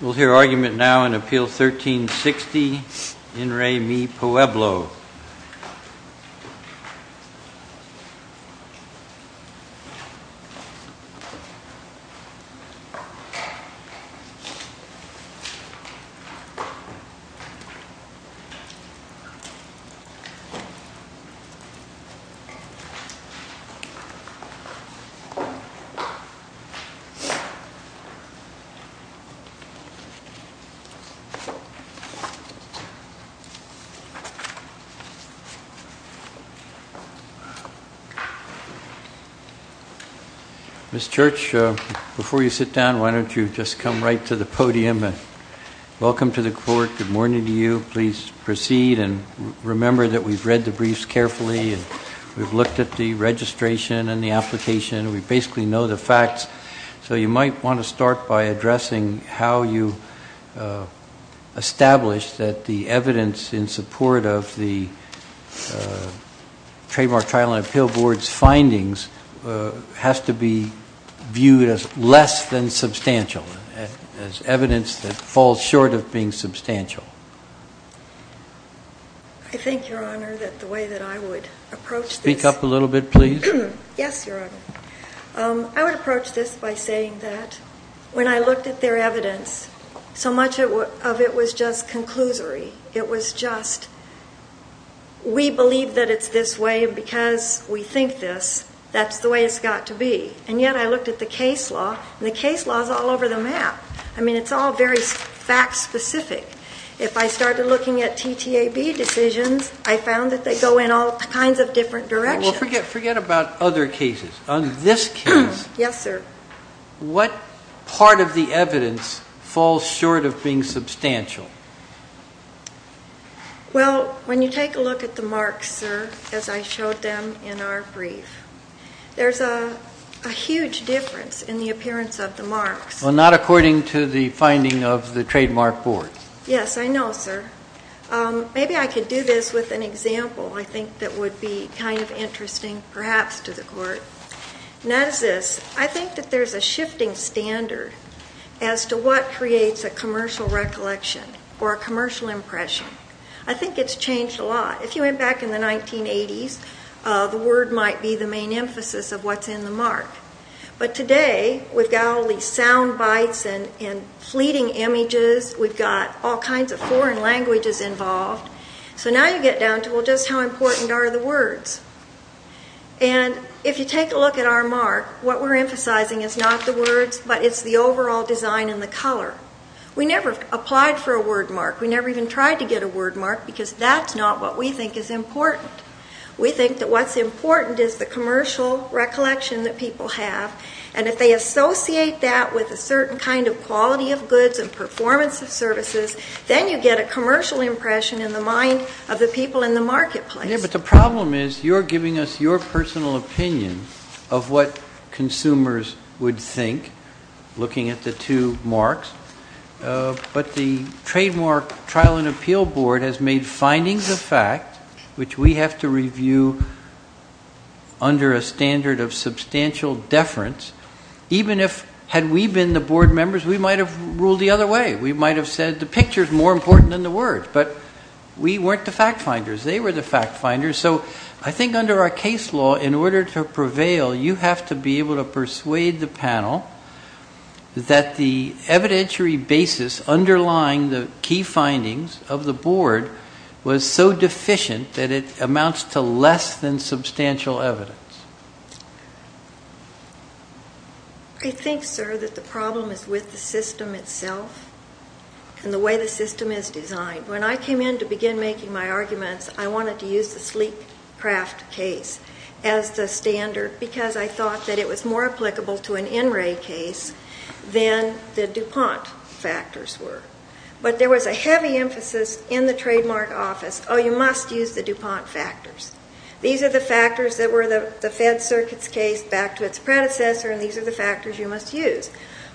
We'll hear argument now in Appeal 1360, In Re Mi Pueblo. Ms. Church, before you sit down, why don't you just come right to the podium and welcome to the court. Good morning to you. Please proceed and remember that we've read the briefs carefully and we've looked at the registration and the application. We basically know the facts. So you might want to start by addressing how you establish that the evidence in support of the Trademark Trial and Appeal Board's findings has to be viewed as less than substantial, as evidence that falls short of being substantial. I think, Your Honor, that the way that I would approach this... Yes, Your Honor. I would approach this by saying that when I looked at their evidence, so much of it was just conclusory. It was just, we believe that it's this way because we think this. That's the way it's got to be. And yet I looked at the case law, and the case law is all over the map. I mean, it's all very fact-specific. If I started looking at TTAB decisions, I found that they go in all kinds of different directions. Well, forget about other cases. On this case, what part of the evidence falls short of being substantial? Well, when you take a look at the marks, sir, as I showed them in our brief, there's a huge difference in the appearance of the marks. Not according to the finding of the Trademark Board. Yes, I know, sir. Maybe I could do this with an example, I think, that would be kind of interesting, perhaps, to the Court. And that is this. I think that there's a shifting standard as to what creates a commercial recollection or a commercial impression. I think it's changed a lot. If you went back in the 1980s, the word might be the main emphasis of what's in the mark. But today, we've got all these sound bites and fleeting images. We've got all kinds of foreign languages involved. So now you get down to, well, just how important are the words? And if you take a look at our mark, what we're emphasizing is not the words, but it's the overall design and the color. We never applied for a word mark. We never even tried to get a word mark, because that's not what we think is important. We think that what's important is the commercial recollection that people have. And if they associate that with a certain kind of quality of goods and performance of services, then you get a commercial impression in the mind of the people in the marketplace. Yeah, but the problem is, you're giving us your personal opinion of what consumers would think, looking at the two marks. But the Trademark Trial and Appeal Board has made findings of fact, which we have to review under a standard of substantial deference. Even if, had we been the board members, we might have ruled the other way. We might have said, the picture is more important than the words. But we weren't the fact finders. They were the fact finders. So I think under our case law, in order to prevail, you have to be able to persuade the panel that the evidentiary basis underlying the key findings of the board was so deficient that it amounts to less than substantial evidence. I think, sir, that the problem is with the system itself and the way the system is designed. When I came in to begin making my arguments, I wanted to use the Sleepcraft case as the standard because I thought that it was more applicable to an NRA case than the DuPont factors were. But there was a heavy emphasis in the trademark office, oh, you must use the DuPont factors. These are the factors that were the Fed Circuit's case back to its predecessor, and these are the factors you must use.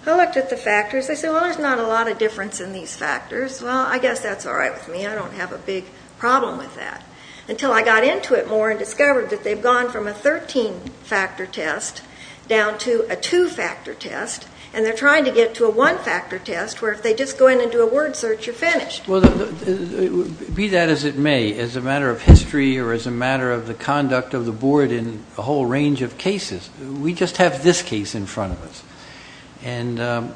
I looked at the factors. I said, well, there's not a lot of difference in these factors. Well, I guess that's all right with me. I don't have a big problem with that. Until I got into it more and discovered that they've gone from a 13-factor test down to a two-factor test, and they're trying to get to a one-factor test where if they just go in and do a word search, you're finished. Well, be that as it may, as a matter of history or as a matter of the conduct of the board in a whole range of cases, we just have this case in front of us. And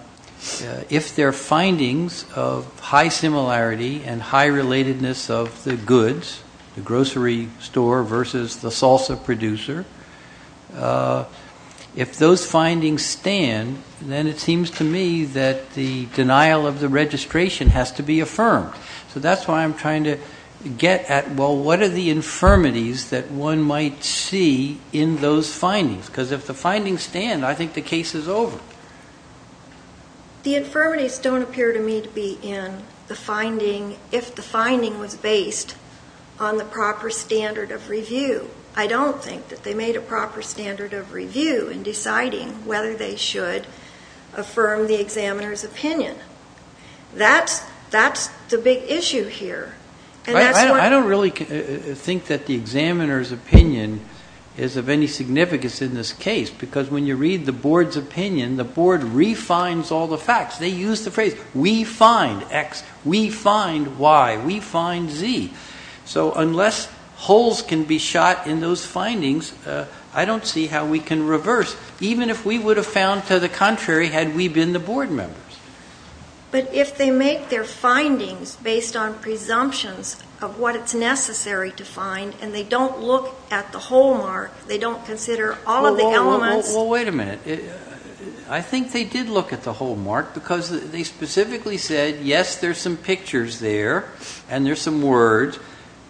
if their findings of high similarity and high relatedness of the goods, the grocery store versus the salsa producer, if those findings stand, then it seems to me that the denial of the registration has to be affirmed. So that's why I'm trying to get at, well, what are the infirmities that one might see in those findings? Because if the findings stand, I think the case is over. The infirmities don't appear to me to be in the finding if the finding was based on the proper standard of review. I don't think that they made a proper standard of review in deciding whether they should affirm the examiner's opinion. That's the big issue here. And that's why... I don't really think that the examiner's opinion is of any significance in this case because when you read the board's opinion, the board refinds all the facts. They use the phrase, we find X, we find Y, we find Z. So unless holes can be shot in those findings, I don't see how we can reverse. Even if we would have found to the contrary had we been the board members. But if they make their findings based on presumptions of what it's necessary to find and they don't look at the hole mark, they don't consider all of the elements... Well, wait a minute. I think they did look at the hole mark because they specifically said, yes, there's some pictures there and there's some words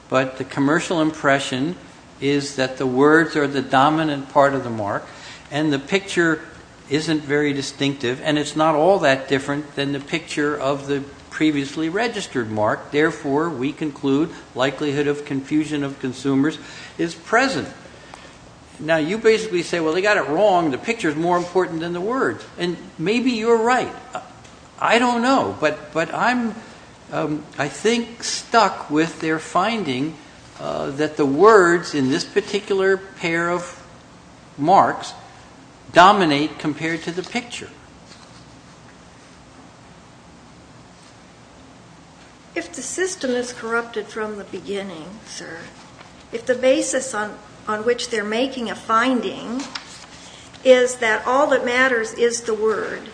but the commercial impression is that the words are the dominant part of the mark and the picture isn't very distinctive and it's not all that different than the picture of the previously registered mark. Therefore, we conclude likelihood of confusion of consumers is present. Now, you basically say, well, they got it wrong. The picture is more important than the words and maybe you're right. I don't know, but I'm, I think, stuck with their finding that the words in this particular pair of marks dominate compared to the picture. If the system is corrupted from the beginning, sir, if the basis on which they're making a finding is that all that matters is the word,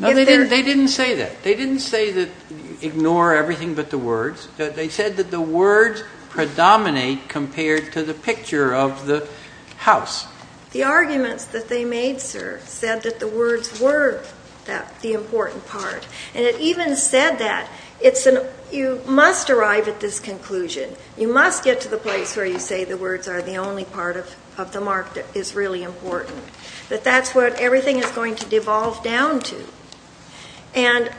they didn't say that. They didn't say that ignore everything but the words. They said that the words predominate compared to the picture of the house. The arguments that they made, sir, said that the words were the important part and it even said that. It's an, you must arrive at this conclusion. You must get to the place where you say the words are the only part of the mark that is really important. That that's what everything is going to devolve down to. And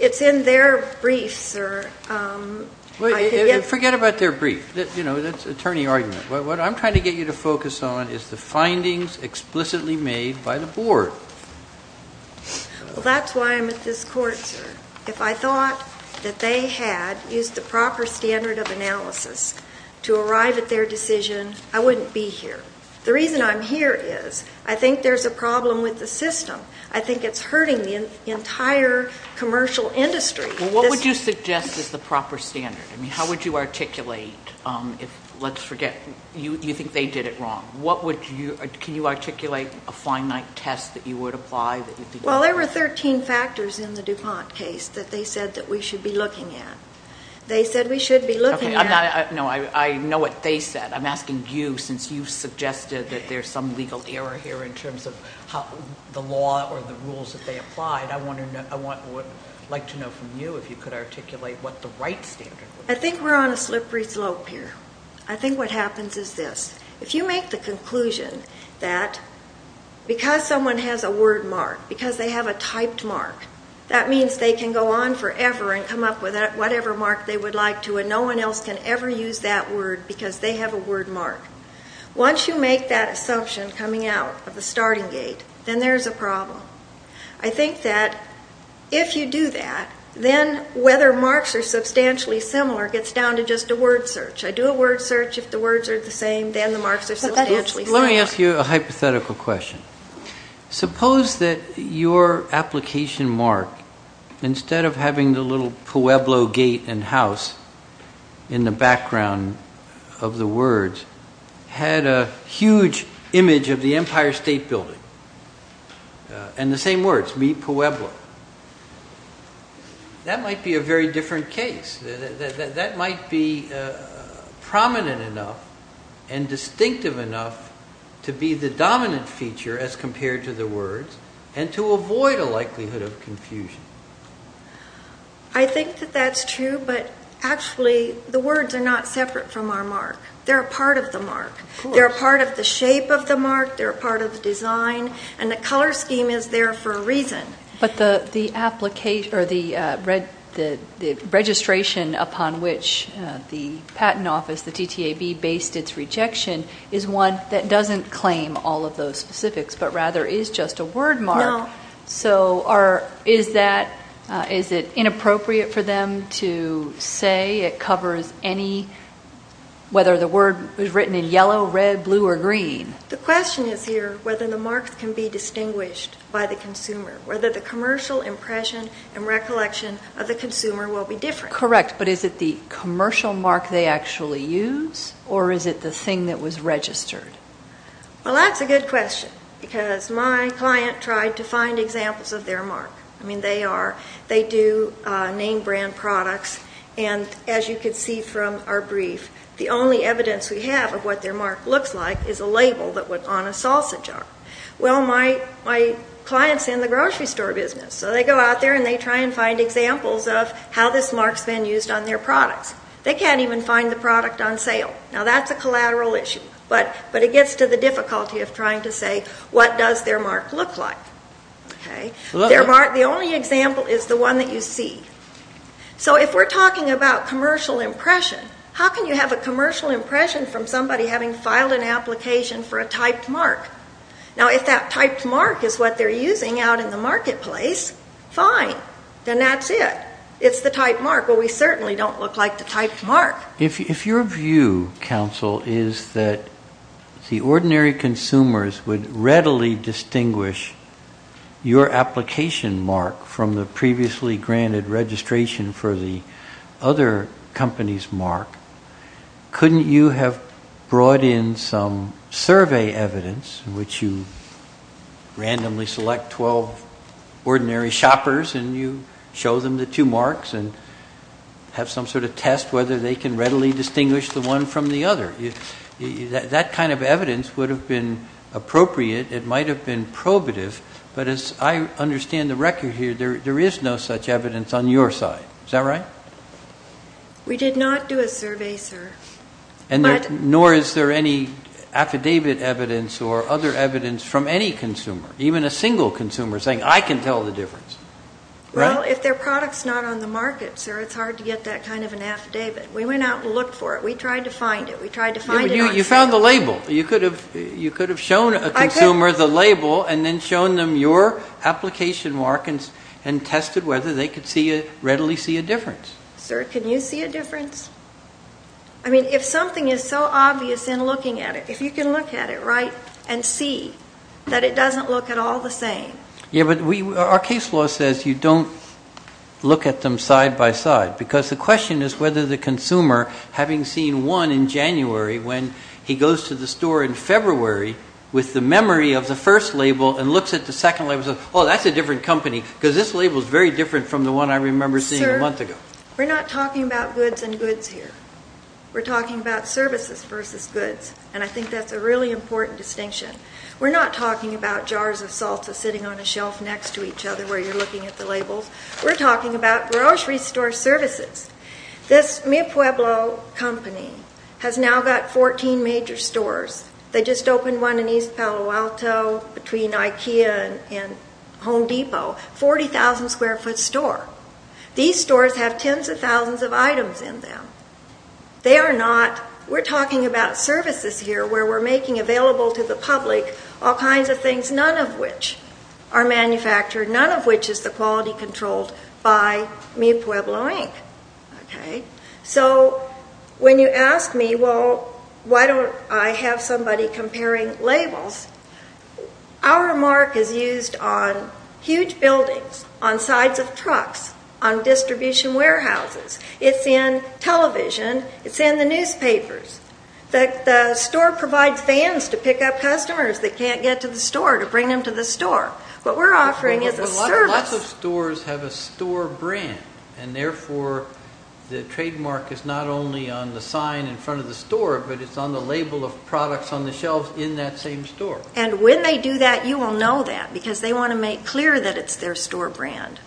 it's in their brief, sir. I could get. Well, forget about their brief. You know, that's attorney argument. What I'm trying to get you to focus on is the findings explicitly made by the board. Well, that's why I'm at this court, sir. If I thought that they had used the proper standard of analysis to arrive at their decision, I wouldn't be here. The reason I'm here is I think there's a problem with the system. I think it's hurting the entire commercial industry. Well, what would you suggest is the proper standard? I mean, how would you articulate if, let's forget, you think they did it wrong. What would you, can you articulate a finite test that you would apply that you think? Well, there were 13 factors in the DuPont case that they said that we should be looking at. They said we should be looking at. Okay, I'm not, no, I know what they said. I'm asking you since you suggested that there's some legal error here in terms of the law or the rules that they applied. I want to know, I would like to know from you if you could articulate what the right standard would be. I think we're on a slippery slope here. I think what happens is this. If you make the conclusion that because someone has a word mark, because they have a typed mark, that means they can go on forever and come up with whatever mark they would like to and no one else can ever use that word because they have a word mark. Once you make that assumption coming out of the starting gate, then there's a problem. I think that if you do that, then whether marks are substantially similar gets down to just a word search. I do a word search. If the words are the same, then the marks are substantially similar. Let me ask you a hypothetical question. Suppose that your application mark, instead of having the little Pueblo gate and house in the background of the words, had a huge image of the Empire State Building and the same words, mi Pueblo. That might be a very different case. That might be prominent enough and distinctive enough to be the dominant feature as compared to the words and to avoid a likelihood of confusion. I think that that's true, but actually the words are not separate from our mark. They're a part of the mark. They're a part of the shape of the mark. They're a part of the design and the color scheme is there for a reason. But the registration upon which the patent office, the TTAB, based its rejection is one that doesn't claim all of those specifics, but rather is just a word mark. No. So is it inappropriate for them to say it covers any, whether the word was written in yellow, red, blue, or green? The question is here whether the mark can be distinguished by the consumer, whether the commercial impression and recollection of the consumer will be different. Correct, but is it the commercial mark they actually use or is it the thing that was registered? Well, that's a good question because my client tried to find examples of their mark. I mean, they are, they do name brand products and as you can see from our brief, the only evidence we have of what their mark looks like is a label that went on a salsa jar. Well, my client's in the grocery store business, so they go out there and they try and find examples of how this mark's been used on their products. They can't even find the product on sale. Now, that's a collateral issue, but it gets to the difficulty of trying to say what does their mark look like, okay? Their mark, the only example is the one that you see. So if we're talking about commercial impression, how can you have a commercial impression from somebody having filed an application for a typed mark? Now, if that typed mark is what they're using out in the marketplace, fine, then that's it. It's the typed mark. Well, we certainly don't look like the typed mark. If your view, counsel, is that the ordinary consumers would readily distinguish your application mark from the previously granted registration for the other company's mark, couldn't you have brought in some survey evidence in which you randomly select 12 ordinary shoppers and you show them the two marks and have some sort of test whether they can readily distinguish the one from the other? That kind of evidence would have been appropriate. It might have been probative, but as I understand the record here, there is no such evidence on your side. Is that right? We did not do a survey, sir. Nor is there any affidavit evidence or other evidence from any consumer, even a single consumer saying, I can tell the difference, right? Well, if their product's not on the market, sir, it's hard to get that kind of an affidavit. We went out and looked for it. We tried to find it. We tried to find it on sale. You found the label. You could have shown a consumer the label and then shown them your application mark and tested whether they could readily see a difference. Sir, can you see a difference? I mean, if something is so obvious in looking at it, if you can look at it, right, and see that it doesn't look at all the same. Yeah, but our case law says you don't look at them side by side because the question is whether the consumer, having seen one in January when he goes to the store in February with the memory of the first label and looks at the second label and says, oh, that's a different company because this label is very different from the one I remember seeing a month ago. Sir, we're not talking about goods and goods here. We're talking about services versus goods, and I think that's a really important distinction. We're not talking about jars of salsa sitting on a shelf next to each other where you're looking at the labels. We're talking about grocery store services. This Mi Pueblo company has now got 14 major stores. They just opened one in East Palo Alto between Ikea and Home Depot, 40,000 square foot store. These stores have tens of thousands of items in them. They are not, we're talking about services here where we're making available to the public all kinds of things, none of which are manufactured, none of which is the quality controlled by Mi Pueblo, Inc. Okay? So when you ask me, well, why don't I have somebody comparing labels? Our mark is used on huge buildings, on sides of trucks, on distribution warehouses. It's in television. It's in the newspapers. The store provides vans to pick up customers that can't get to the store to bring them to the store. What we're offering is a service. Lots of stores have a store brand, and therefore the trademark is not only on the sign in front of the store, but it's on the label of products on the shelves in that same store. And when they do that, you will know that because they want to make clear that it's their store brand.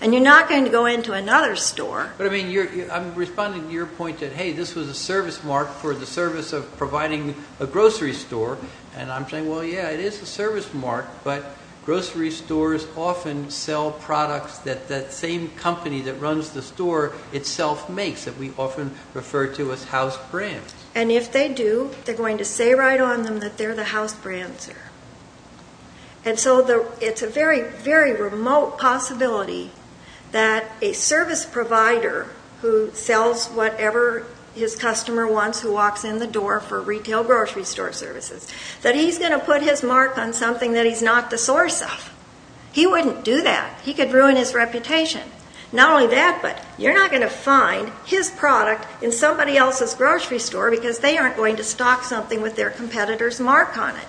And you're not going to go into another store. But I mean, I'm responding to your point that, hey, this was a service mark for the service of providing a grocery store, and I'm saying, well, yeah, it is a service mark, but grocery stores often sell products that that same company that runs the store itself makes that we often refer to as house brands. And if they do, they're going to say right on them that they're the house brand, sir. And so it's a very, very remote possibility that a service provider who sells whatever his customer wants, who walks in the door for retail grocery store services, that he's going to put his mark on something that he's not the source of. He wouldn't do that. He could ruin his reputation. Not only that, but you're not going to find his product in somebody else's grocery store because they aren't going to stock something with their competitor's mark on it.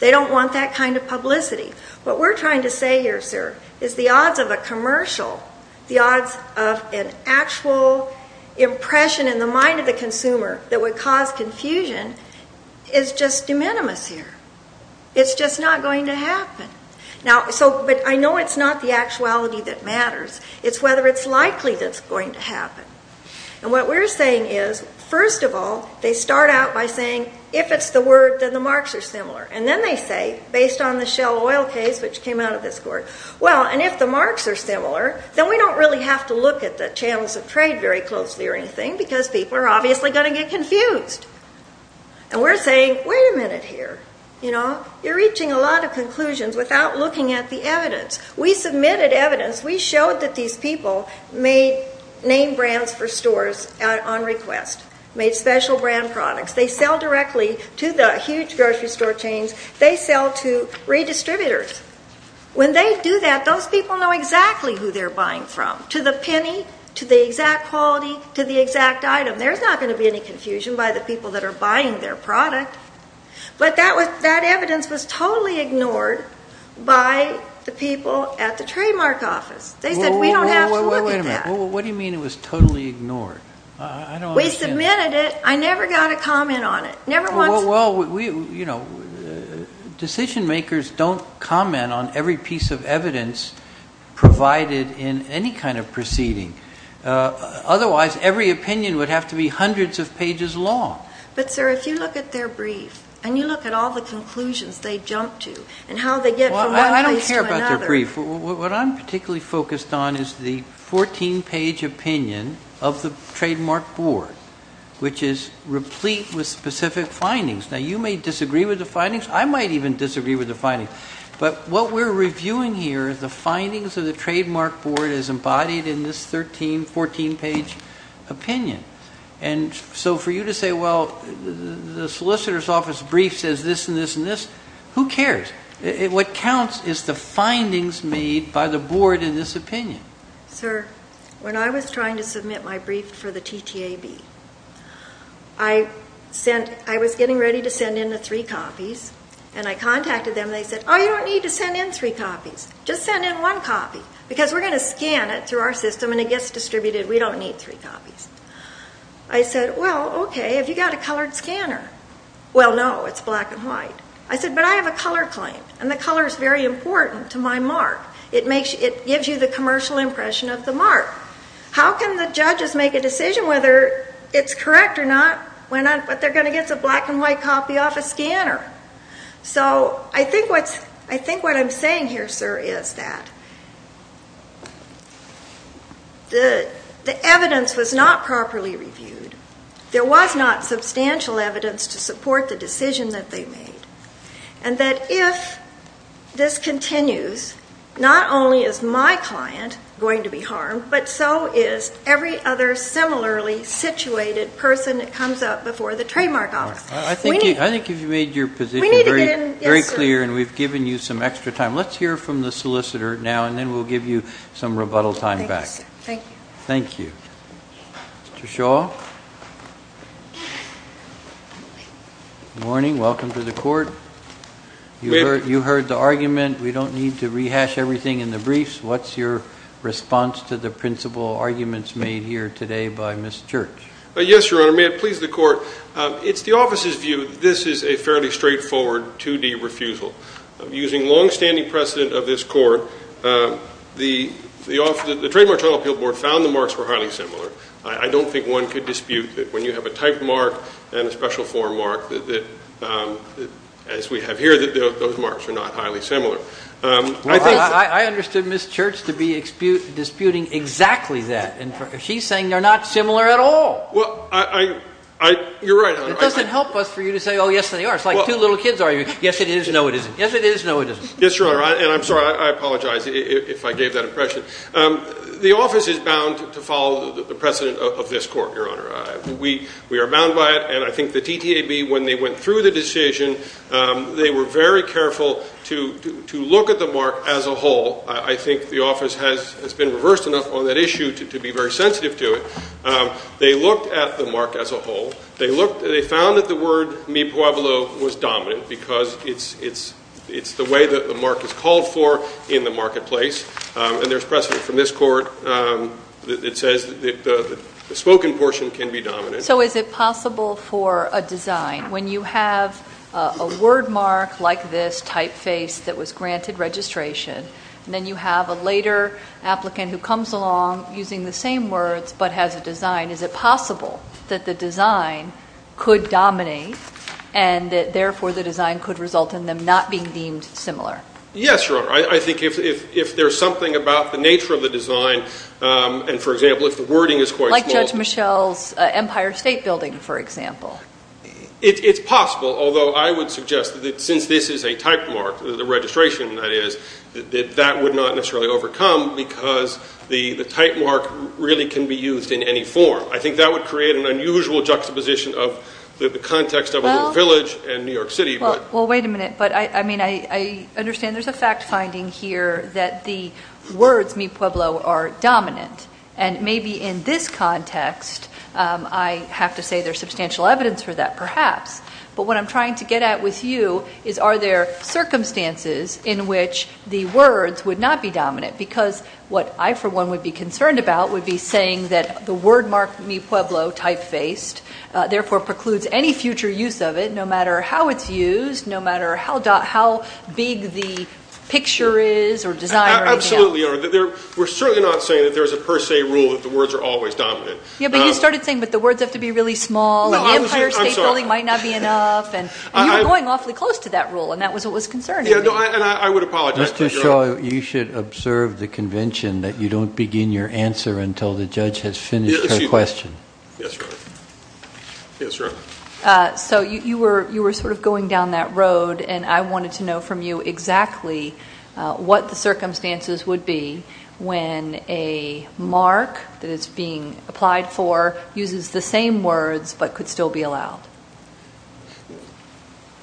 They don't want that kind of publicity. What we're trying to say here, sir, is the odds of a commercial, the odds of an actual impression in the mind of the consumer that would cause confusion is just de minimis here. It's just not going to happen. Now, so, but I know it's not the actuality that matters. It's whether it's likely that it's going to happen. And what we're saying is, first of all, they start out by saying, if it's the word, then the marks are similar. And then they say, based on the Shell Oil case, which came out of this court, well, and if the marks are similar, then we don't really have to look at the channels of trade very closely or anything because people are obviously going to get confused. And we're saying, wait a minute here, you know. You're reaching a lot of conclusions without looking at the evidence. We submitted evidence. We showed that these people made name brands for stores on request, made special brand products. They sell directly to the huge grocery store chains. They sell to redistributors. When they do that, those people know exactly who they're buying from, to the penny, to the exact quality, to the exact item. There's not going to be any confusion by the people that are buying their product. But that evidence was totally ignored by the people at the trademark office. They said, we don't have to look at that. Well, what do you mean it was totally ignored? I don't understand. We submitted it. I never got a comment on it. Never once. Well, we, you know, decision makers don't comment on every piece of evidence provided in any kind of proceeding. Otherwise, every opinion would have to be hundreds of pages long. But sir, if you look at their brief and you look at all the conclusions they jump to and how they get from one place to another. Well, I don't care about their brief. What I'm particularly focused on is the 14-page opinion of the trademark board, which is replete with specific findings. Now, you may disagree with the findings. I might even disagree with the findings. But what we're reviewing here is the findings of the trademark board as embodied in this 13, 14-page opinion. And so for you to say, well, the solicitor's office brief says this and this and this, who cares? What counts is the findings made by the board in this opinion. Sir, when I was trying to submit my brief for the TTAB, I was getting ready to send in the three copies and I contacted them. They said, oh, you don't need to send in three copies. Just send in one copy because we're going to scan it through our system and it gets distributed. We don't need three copies. I said, well, okay, have you got a colored scanner? Well, no, it's black and white. I said, but I have a color claim and the color is very important to my mark. It gives you the commercial impression of the mark. How can the judges make a decision whether it's correct or not when they're going to get the black and white copy off a scanner? So I think what I'm saying here, sir, is that the evidence was not properly reviewed. There was not substantial evidence to support the decision that they made and that if this continues, not only is my client going to be harmed, but so is every other similarly situated person that comes up before the trademark office. We need to get an answer. I think you've made your position very clear and we've given you some extra time. Let's hear from the solicitor now and then we'll give you some rebuttal time back. Thank you, sir. Thank you. Thank you. Mr. Shaw. Good morning. Welcome to the court. You heard the argument. We don't need to rehash everything in the briefs. What's your response to the principal arguments made here today by Ms. Church? Yes, Your Honor. May it please the court. It's the office's view that this is a fairly straightforward 2D refusal. Using longstanding precedent of this court, the Trademark Title Appeal Board found the marks were highly similar. I don't think one could dispute that when you have a type mark and a special form mark that as we have here, that those marks are not highly similar. I understood Ms. Church to be disputing exactly that. She's saying they're not similar at all. You're right, Your Honor. It doesn't help us for you to say, oh, yes, they are. It's like two little kids arguing. Yes, it is. No, it isn't. Yes, it is. No, it isn't. Yes, Your Honor. And I'm sorry, I apologize if I gave that impression. The office is bound to follow the precedent of this court, Your Honor. We are bound by it. And I think the TTAB, when they went through the decision, they were very careful to look at the mark as a whole. I think the office has been reversed enough on that issue to be very sensitive to it. They looked at the mark as a whole. They found that the word Mi Pueblo was dominant because it's the way that the mark is called for in the marketplace. And there's precedent from this court that says that the spoken portion can be dominant. So is it possible for a design, when you have a word mark like this typeface that was granted registration, and then you have a later applicant who comes along using the same words but has a design, is it possible that the design could dominate and that, therefore, the design could result in them not being deemed similar? Yes, Your Honor. I think if there's something about the nature of the design, and for example, if the wording is quite small. Like Judge Michel's Empire State Building, for example. It's possible. Although I would suggest that since this is a type mark, the registration that is, that that would not necessarily overcome because the type mark really can be used in any form. I think that would create an unusual juxtaposition of the context of a little village in New York City. Well, wait a minute. I mean, I understand there's a fact finding here that the words Mi Pueblo are dominant. And maybe in this context, I have to say there's substantial evidence for that, perhaps. But what I'm trying to get at with you is, are there circumstances in which the words would not be dominant? Because what I, for one, would be concerned about would be saying that the word mark, Mi Pueblo, type-faced, therefore precludes any future use of it, no matter how it's used, no matter how big the picture is or desire is. Absolutely, Your Honor. We're certainly not saying that there's a per se rule that the words are always dominant. Yeah, but you started saying, but the words have to be really small, and the Empire State Building might not be enough. And you were going awfully close to that rule, and that was what was concerning me. And I would apologize. Mr. Shaw, you should observe the convention that you don't begin your answer until the judge has finished her question. Yes, Your Honor. Yes, Your Honor. So you were sort of going down that road, and I wanted to know from you exactly what the circumstances would be when a mark that is being applied for uses the same words but could still be allowed.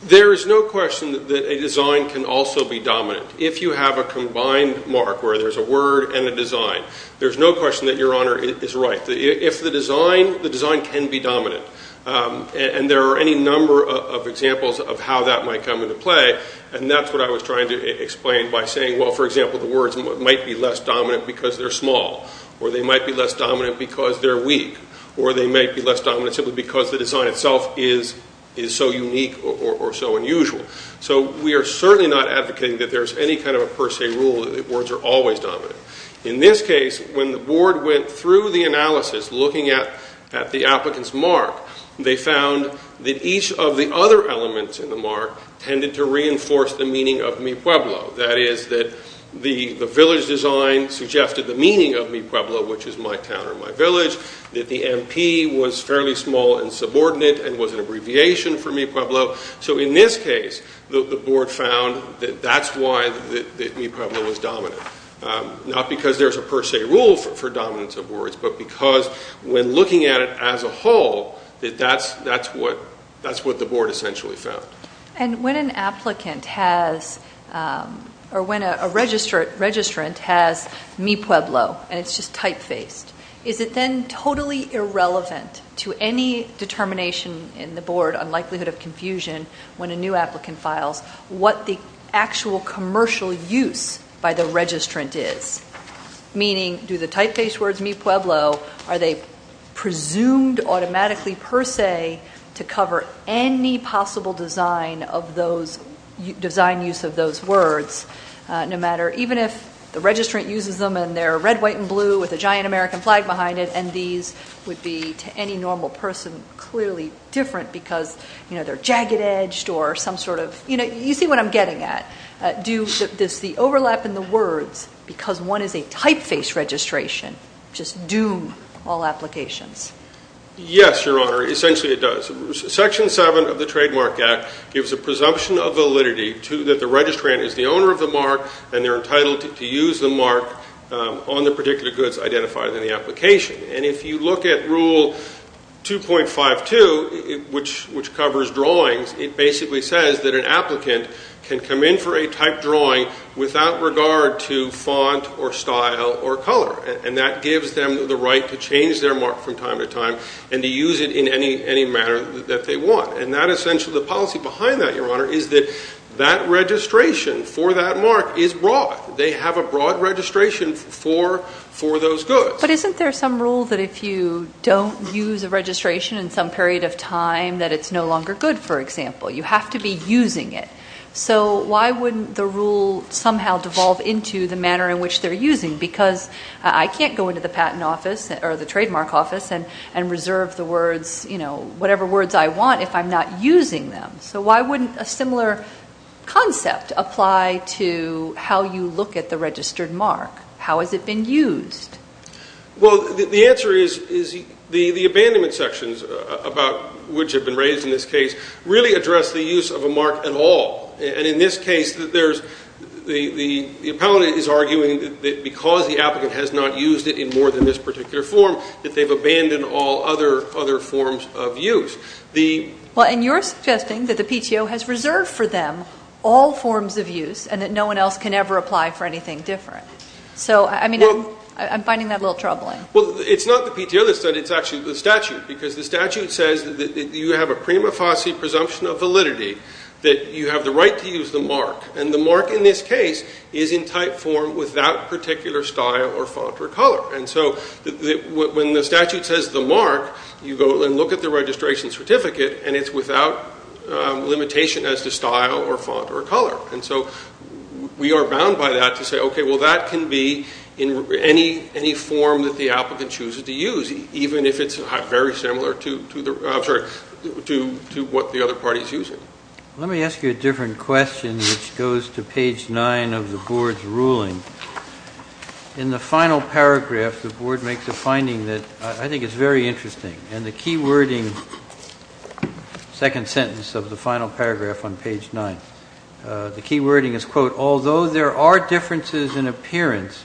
There is no question that a design can also be dominant. If you have a combined mark where there's a word and a design, there's no question that Your Honor is right. If the design, the design can be dominant. And there are any number of examples of how that might come into play, and that's what I was trying to explain by saying, well, for example, the words might be less dominant because they're small, or they might be less dominant because they're weak, or they might be less dominant simply because the design itself is so unique or so unusual. So we are certainly not advocating that there's any kind of a per se rule that words are always dominant. In this case, when the board went through the analysis looking at the applicant's mark, they found that each of the other elements in the mark tended to reinforce the meaning of Mi Pueblo. That is, that the village design suggested the meaning of Mi Pueblo, which is my town or my village, and was an abbreviation for Mi Pueblo. So in this case, the board found that that's why Mi Pueblo was dominant. Not because there's a per se rule for dominance of words, but because when looking at it as a whole, that's what the board essentially found. And when an applicant has, or when a registrant has Mi Pueblo, and it's just type-faced, is it then totally irrelevant to any determination in the board unlikelihood of confusion when a new applicant files what the actual commercial use by the registrant is. Meaning, do the type-faced words Mi Pueblo, are they presumed automatically per se to cover any possible design use of those words, no matter, even if the registrant uses them and they're red, white, and blue with a giant American flag behind it and these would be to any normal person clearly different because they're jagged edged or some sort of... You see what I'm getting at. Does the overlap in the words, because one is a type-faced registration, just doom all applications? Yes, Your Honor, essentially it does. Section 7 of the Trademark Act gives a presumption of validity that the registrant is the owner of the mark and they're entitled to use the mark on the particular goods identified in the application. And if you look at Rule 2.52, which covers drawings, it basically says that an applicant can come in for a type drawing without regard to font or style or color. And that gives them the right to change their mark from time to time and to use it in any manner that they want. And that essentially, the policy behind that, Your Honor, is that that registration for that mark is broad. They have a broad registration for those goods. But isn't there some rule that if you don't use a registration in some period of time, that it's no longer good, for example? You have to be using it. So why wouldn't the rule somehow devolve into the manner in which they're using? Because I can't go into the patent office or the trademark office and reserve the words, whatever words I want, if I'm not using them. So why wouldn't a similar concept apply to how you look at the registered mark? How has it been used? Well, the answer is the abandonment sections about which have been raised in this case really address the use of a mark at all. And in this case, the appellant is arguing that because the applicant has not used it in more than this particular form, that they've abandoned all other forms of use. Well, and you're suggesting that the PTO has reserved for them all forms of use and that no one else can ever apply for anything different. I'm finding that a little troubling. Well, it's not the PTO that said it, it's actually the statute. Because the statute says that you have a prima facie presumption of validity that you have the right to use the mark. And the mark in this case is in type form without particular style or font or color. And so when the statute says the mark, you go and look at the registration certificate and it's without limitation as to style or font or color. And so we are bound by that to say, okay, well that can be in any form that the applicant chooses to use, even if it's very similar to what the other party is using. Let me ask you a different question which goes to page 9 of the Board's ruling. In the final paragraph the Board makes a finding that I think is very interesting. And the key wording second sentence of the final paragraph on page 9. The key wording is, quote, although there are differences in appearance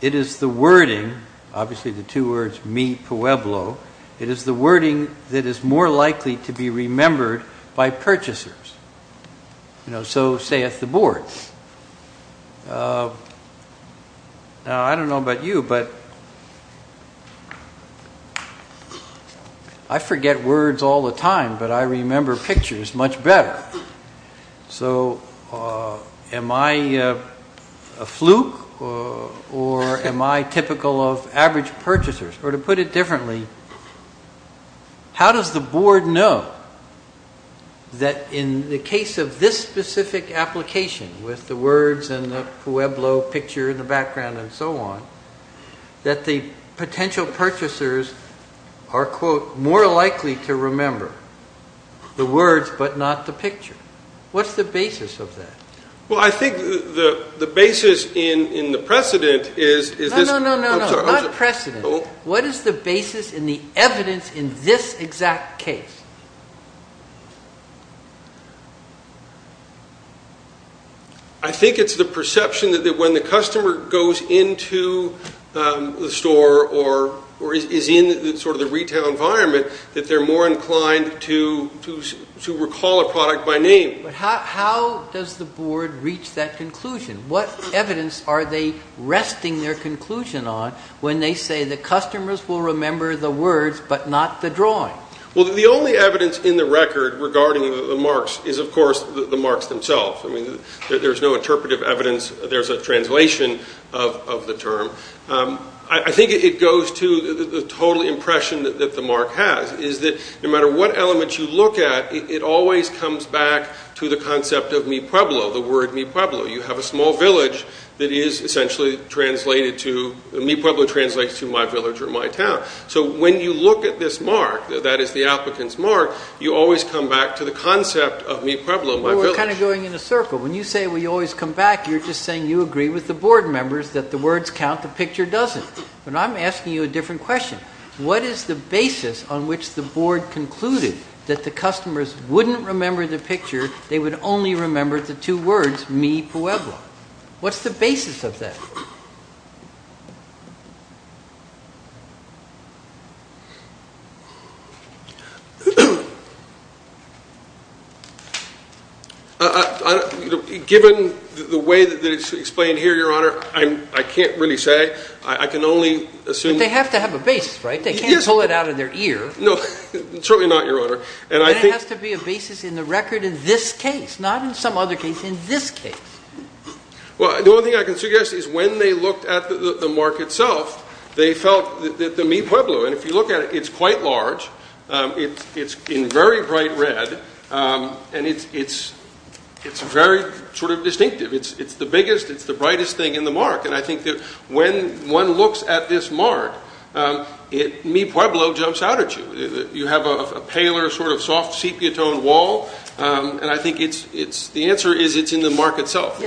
it is the wording, obviously the two words, mi pueblo it is the wording that is more likely to be remembered by purchasers. So saith the Board. Now I don't know about you, but I forget words all the time, but I remember pictures much better. So am I a fluke? Or am I typical of average purchasers? Or to put it differently how does the Board know that in the case of this specific application with the words and the pueblo picture in the background and so on that the potential purchasers are, quote, more likely to remember the words but not the picture? What's the basis of that? Well, I think the basis in the precedent is No, no, no, not precedent. What is the basis in the evidence in this exact case? I think it's the perception that when the customer goes into the store or is in sort of the retail environment that they're more inclined to recall a product by name. How does the Board reach that conclusion? What evidence are they resting their conclusion on when they say the customers will remember the words but not the drawing? Well, the only evidence in the record regarding the marks is of course the marks themselves. There's no interpretive evidence. There's a translation of the term. I think it is the total impression that the mark has is that no matter what element you look at, it always comes back to the concept of Mi Pueblo, the word Mi Pueblo. You have a small village that is essentially translated to Mi Pueblo translates to my village or my town. So when you look at this mark, that is the applicant's mark, you always come back to the concept of Mi Pueblo, my village. We're kind of going in a circle. When you say we always come back you're just saying you agree with the Board members that the words count, the picture doesn't. But I'm asking you a different question. What is the basis on which the Board concluded that the customers wouldn't remember the picture they would only remember the two words Mi Pueblo? What's the basis of that? Given the way that it's explained here, Your Honor, I can't really say. They have to have a basis, right? They can't pull it out of their ear. No, certainly not, Your Honor. Then it has to be a basis in the record in this case, not in some other case. In this case. The only thing I can suggest is when they looked at the mark itself, they felt the Mi Pueblo. And if you look at it, it's quite large. It's in very bright red. And it's very sort of distinctive. It's the biggest, it's the brightest thing in the mark. And I think that when one looks at this mark, Mi Pueblo jumps out at you. You have a paler sort of soft sepia-toned wall. And I think the answer is it's in the mark itself.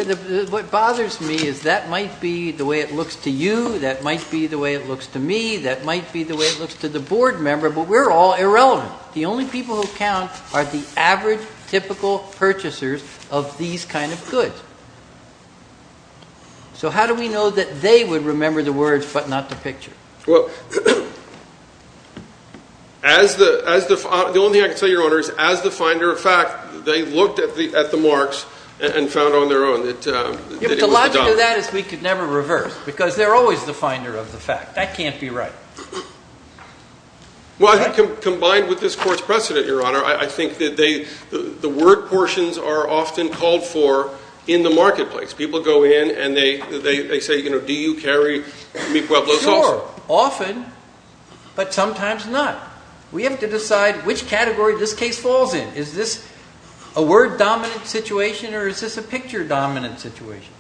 What bothers me is that might be the way it looks to you, that might be the way it looks to me, that might be the way it looks to the Board member, but we're all irrelevant. The only people who count are the average typical purchasers of these kind of goods. So how do we know that they would remember the words but not the picture? Well, the only thing I can tell you, Your Honor, is as the finder of fact, they looked at the marks and found on their own that it was a dime. But the logic of that is we could never reverse. Because they're always the finder of the fact. That can't be right. Well, I think combined with this Court's precedent, Your Honor, I think that the word portions are often called for in the marketplace. People go in and they say, you know, do you carry Meek-Webler's also? Sure, often, but sometimes not. We have to decide which category this case falls in. Is this a word-dominant situation or is this a picture-dominant situation?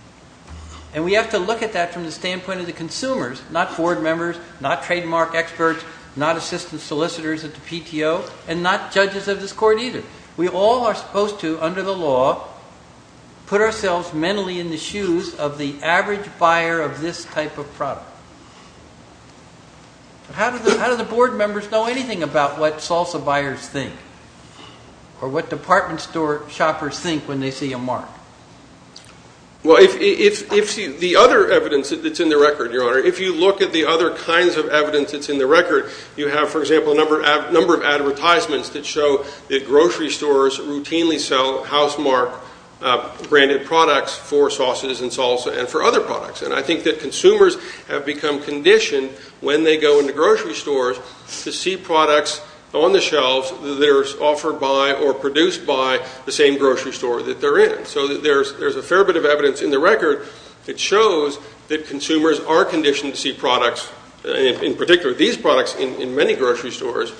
And we have to look at that from the standpoint of the consumers, not Board members, not trademark experts, not assistant solicitors at the PTO, and not judges of this Court either. We all are supposed to, under the law, put ourselves mentally in the shoes of the average buyer of this type of product. How do the Board members know anything about what salsa buyers think? Or what department store shoppers think when they see a mark? Well, if the other evidence that's in the record, Your Honor, if you look at the other kinds of evidence that's in the record, you have, for example, a number of advertisements that show that grocery stores routinely sell Housemark branded products for sausages and salsa and for other products. And I think that consumers have become conditioned when they go into grocery stores to see products on the shelves that are offered by or produced by the same grocery store that they're in. So there's a fair bit of evidence in the record that shows that consumers are conditioned to see products in particular these products in many grocery stores.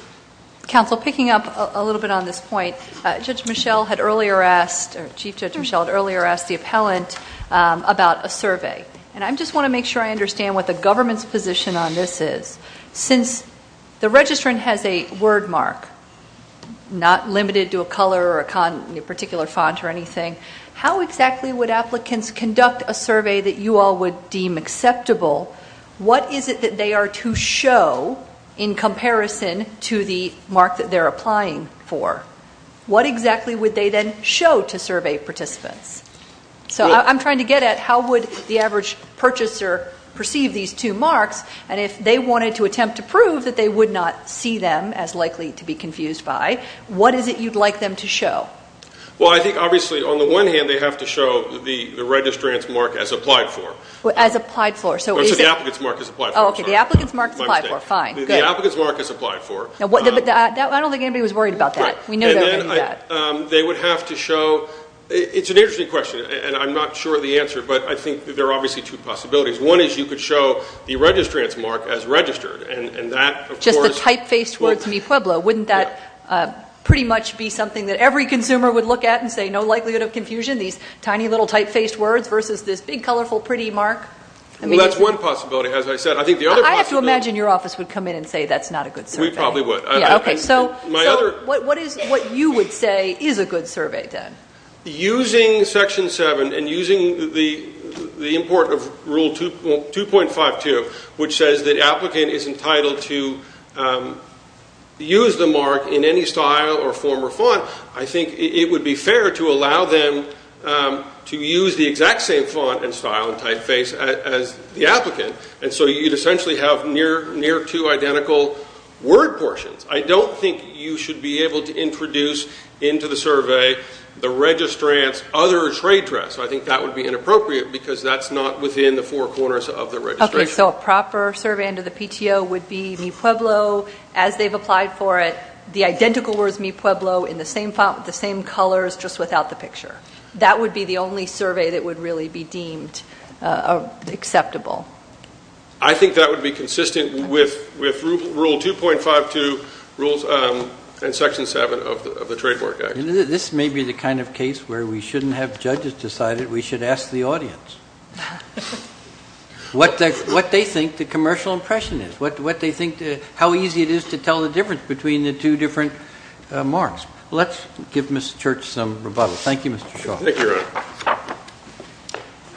Counsel, picking up a little bit on this point, Judge Michelle had earlier asked or Chief Judge Michelle had earlier asked the appellant about a survey. And I just want to make sure I understand what the government's position on this is. Since the registrant has a word mark, not limited to a color or a particular font or anything, how exactly would applicants conduct a survey that you all would deem acceptable, what is it that they are to show in comparison to the mark that they're applying for? What exactly would they then show to survey participants? So I'm trying to get at how would the average purchaser perceive these two marks and if they wanted to attempt to prove that they would not see them as likely to be confused by, what is it you'd like them to show? Well I think obviously on the one hand they have to show the registrant's mark as applied for. The applicant's mark as applied for. The applicant's mark as applied for, fine. The applicant's mark as applied for. I don't think anybody was worried about that. They would have to show it's an interesting question and I'm not sure of the answer but I think there are obviously two possibilities. One is you could show the registrant's mark as registered and that of course. Just the type-faced words mi pueblo, wouldn't that pretty much be something that every consumer would look at and say no likelihood of confusion, these tiny little type-faced words versus this big colorful pretty mark? That's one possibility as I said. I have to imagine your office would come in and say that's not a good survey. We probably would. So what you would say is a good survey then? Using section 7 and using the import of rule 2.52 which says that applicant is entitled to use the mark in any style or form or font, I think it would be fair to allow them to use the exact same font and style and type-face as the applicant and so you'd essentially have near two identical word portions. I don't think you should be able to introduce into the survey the registrant's other trade dress. I think that would be inappropriate because that's not within the four corners of the registration. So a proper survey under the PTO would be mi pueblo as they've applied for it, the identical words mi pueblo in the same font with the same colors just without the picture. That would be the only survey that would really be deemed acceptable. I think that would be consistent with rule 2.52 rules and section 7 of the Trade Work Act. This may be the kind of case where we shouldn't have judges decided we should ask the audience what they think the commercial impression is. How easy it is to tell the difference between the two different marks. Let's give Ms. Church some rebuttal. Thank you Mr. Shaw.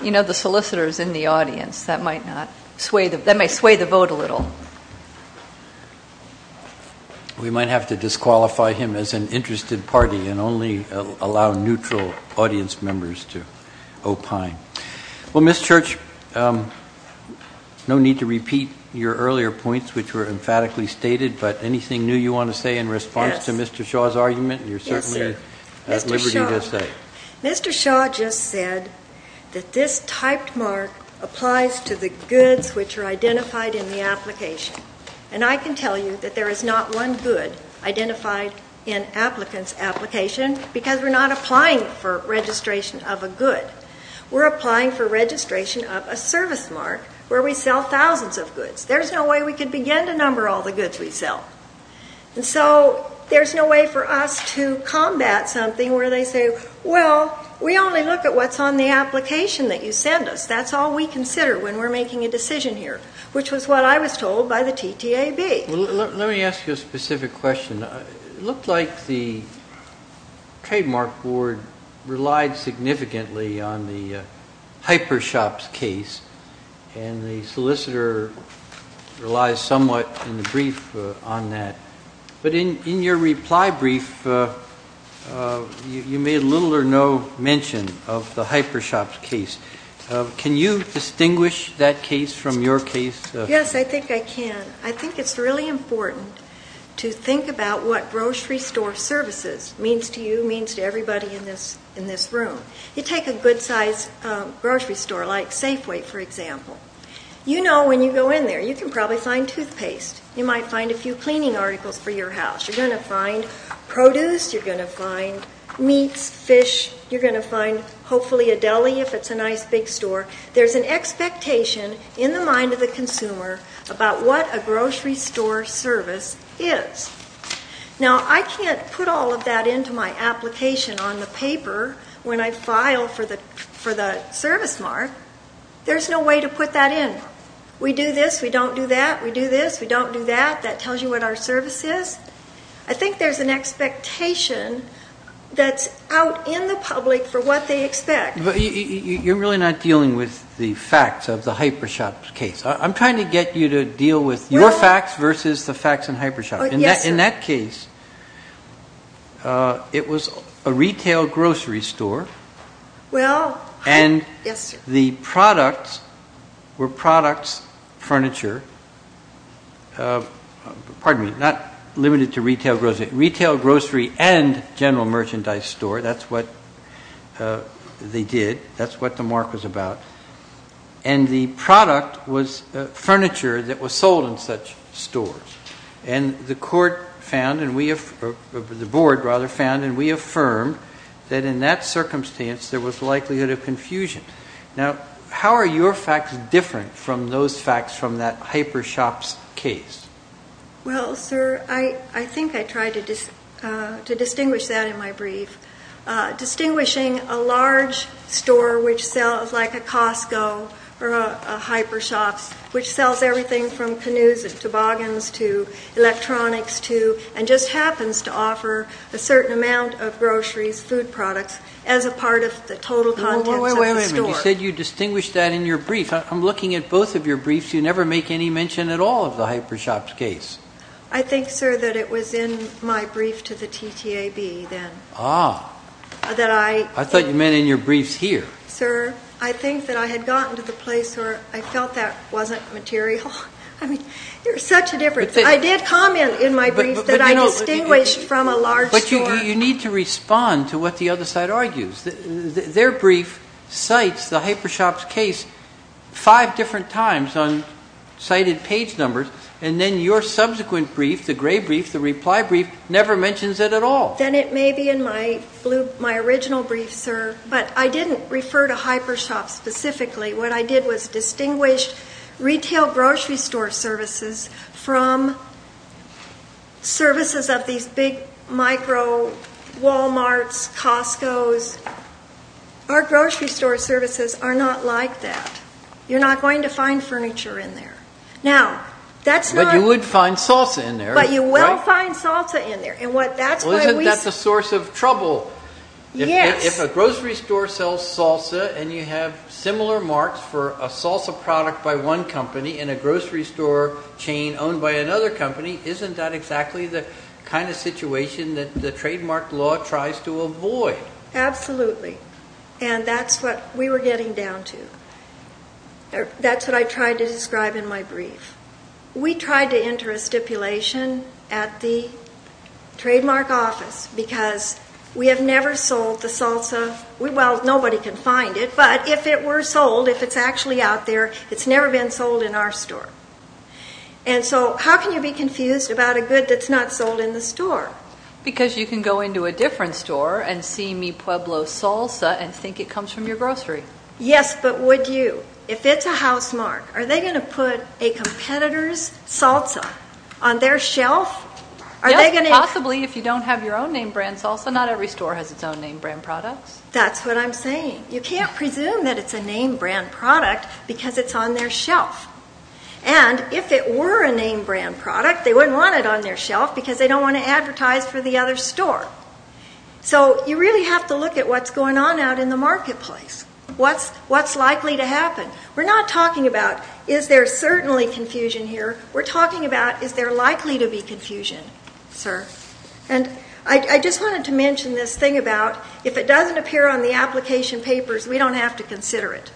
You know the solicitors in the audience that may sway the vote a little. We might have to disqualify him as an interested party and only allow neutral audience members to opine. Well Ms. Church no need to repeat your earlier points which were emphatically stated but anything new you want to say in response to Mr. Shaw's argument? Mr. Shaw just said that this typed mark applies to the goods which are identified in the application. And I can tell you that there is not one good identified in applicants application because we're not applying for registration of a good. We're applying for registration of a service mark where we sell thousands of goods. There's no way we can begin to number all the goods we sell. And so there's no way for us to combat something where they say well we only look at what's on the application that you send us. That's all we consider when we're making a decision here. Which was what I was told by the TTAB. Let me ask you a specific question. It looked like the trademark board relied significantly on the hyper shops case and the solicitor relies somewhat in the brief on that. But in your reply brief you made little or no mention of the hyper shops case. Can you distinguish that case from your case? Yes I think I can. I think it's really important to think about what grocery store services means to you means to everybody in this room. You take a good size grocery store like Safeway for example. You know when you go in there you can probably find toothpaste. You might find a few cleaning articles for your house. You're going to find produce. You're going to find meats, fish. You're going to find hopefully a deli if it's a nice big store. There's an expectation in the mind of the consumer about what a grocery store service is. Now I can't put all of that into my application on the paper when I file for the service mark. There's no way to put that in. We do this. We don't do that. We do this. We don't do that. That tells you what our service is. I think there's an expectation that's out in the public for what they expect. You're really not dealing with the facts of the hyper shop case. I'm trying to get you to deal with your facts versus the facts in hyper shop. In that case it was a retail grocery store and the products were products, furniture not limited to retail grocery and general merchandise store. That's what they did. That's what the mark was about. The product was furniture that was sold in such stores. The board found and we affirmed that in that circumstance there was likelihood of confusion. How are your facts different from those facts from that hyper shop case? I think I tried to distinguish that in my brief. Distinguishing a large store which sells like a Costco or a hyper shop which sells everything from canoes and toboggans to electronics to and just happens to offer a certain amount of groceries, food products as a part of the total contents of the store. You said you distinguished that in your brief. I'm looking at both of your briefs. You never make any mention at all of the hyper shop case. I think that it was in my brief to the TTAB then. I thought you meant in your briefs here. Sir, I think that I had gotten to the place where I felt that wasn't material. There's such a difference. I did comment in my brief that I distinguished from a large store. You need to respond to what the other side argues. Their brief cites the hyper shop case five different times on cited page numbers and then your subsequent brief, the gray brief, the reply brief, never mentions it at all. Then it may be in my original brief, sir, but I didn't refer to hyper shop specifically. What I did was distinguish retail grocery store services from services of these big micro Walmarts, Costco's. Our grocery store services are not like that. You're not going to find furniture in there. You would find salsa in there. But you will find salsa in there. Isn't that the source of trouble? If a grocery store sells salsa and you have similar marks for a salsa product by one company in a grocery store chain owned by another company, isn't that exactly the kind of situation the trademark law tries to avoid? Absolutely. And that's what we were getting down to. That's what I tried to describe in my brief. We tried to enter a stipulation at the trademark office because we have never sold the salsa Well, nobody can find it, but if it were sold, if it's actually out there, it's never been sold in our store. And so, how can you be confused about a good that's not sold in the store? Because you can go into a different store and see Mi Pueblo salsa and think it comes from your grocery. Yes, but would you? If it's a housemark, are they going to put a competitor's salsa on their shelf? Yes, possibly if you don't have your own name brand salsa. Not every store has its own name brand products. That's what I'm saying. You can't presume that it's a name brand product because it's on their shelf. And if it were a name brand product, they wouldn't want it on their shelf because they don't want to advertise for the other store. So, you really have to look at what's going on out in the marketplace. What's likely to happen? We're not talking about is there certainly confusion here? We're talking about is there likely to be confusion, sir? And I just wanted to mention this thing about if it doesn't appear on the application papers, we don't have to consider it.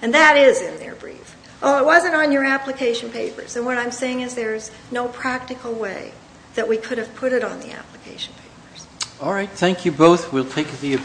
And that is in their brief. It wasn't on your application papers. And what I'm saying is there's no practical way that we could have put it on the application papers. Alright, thank you both. We'll take the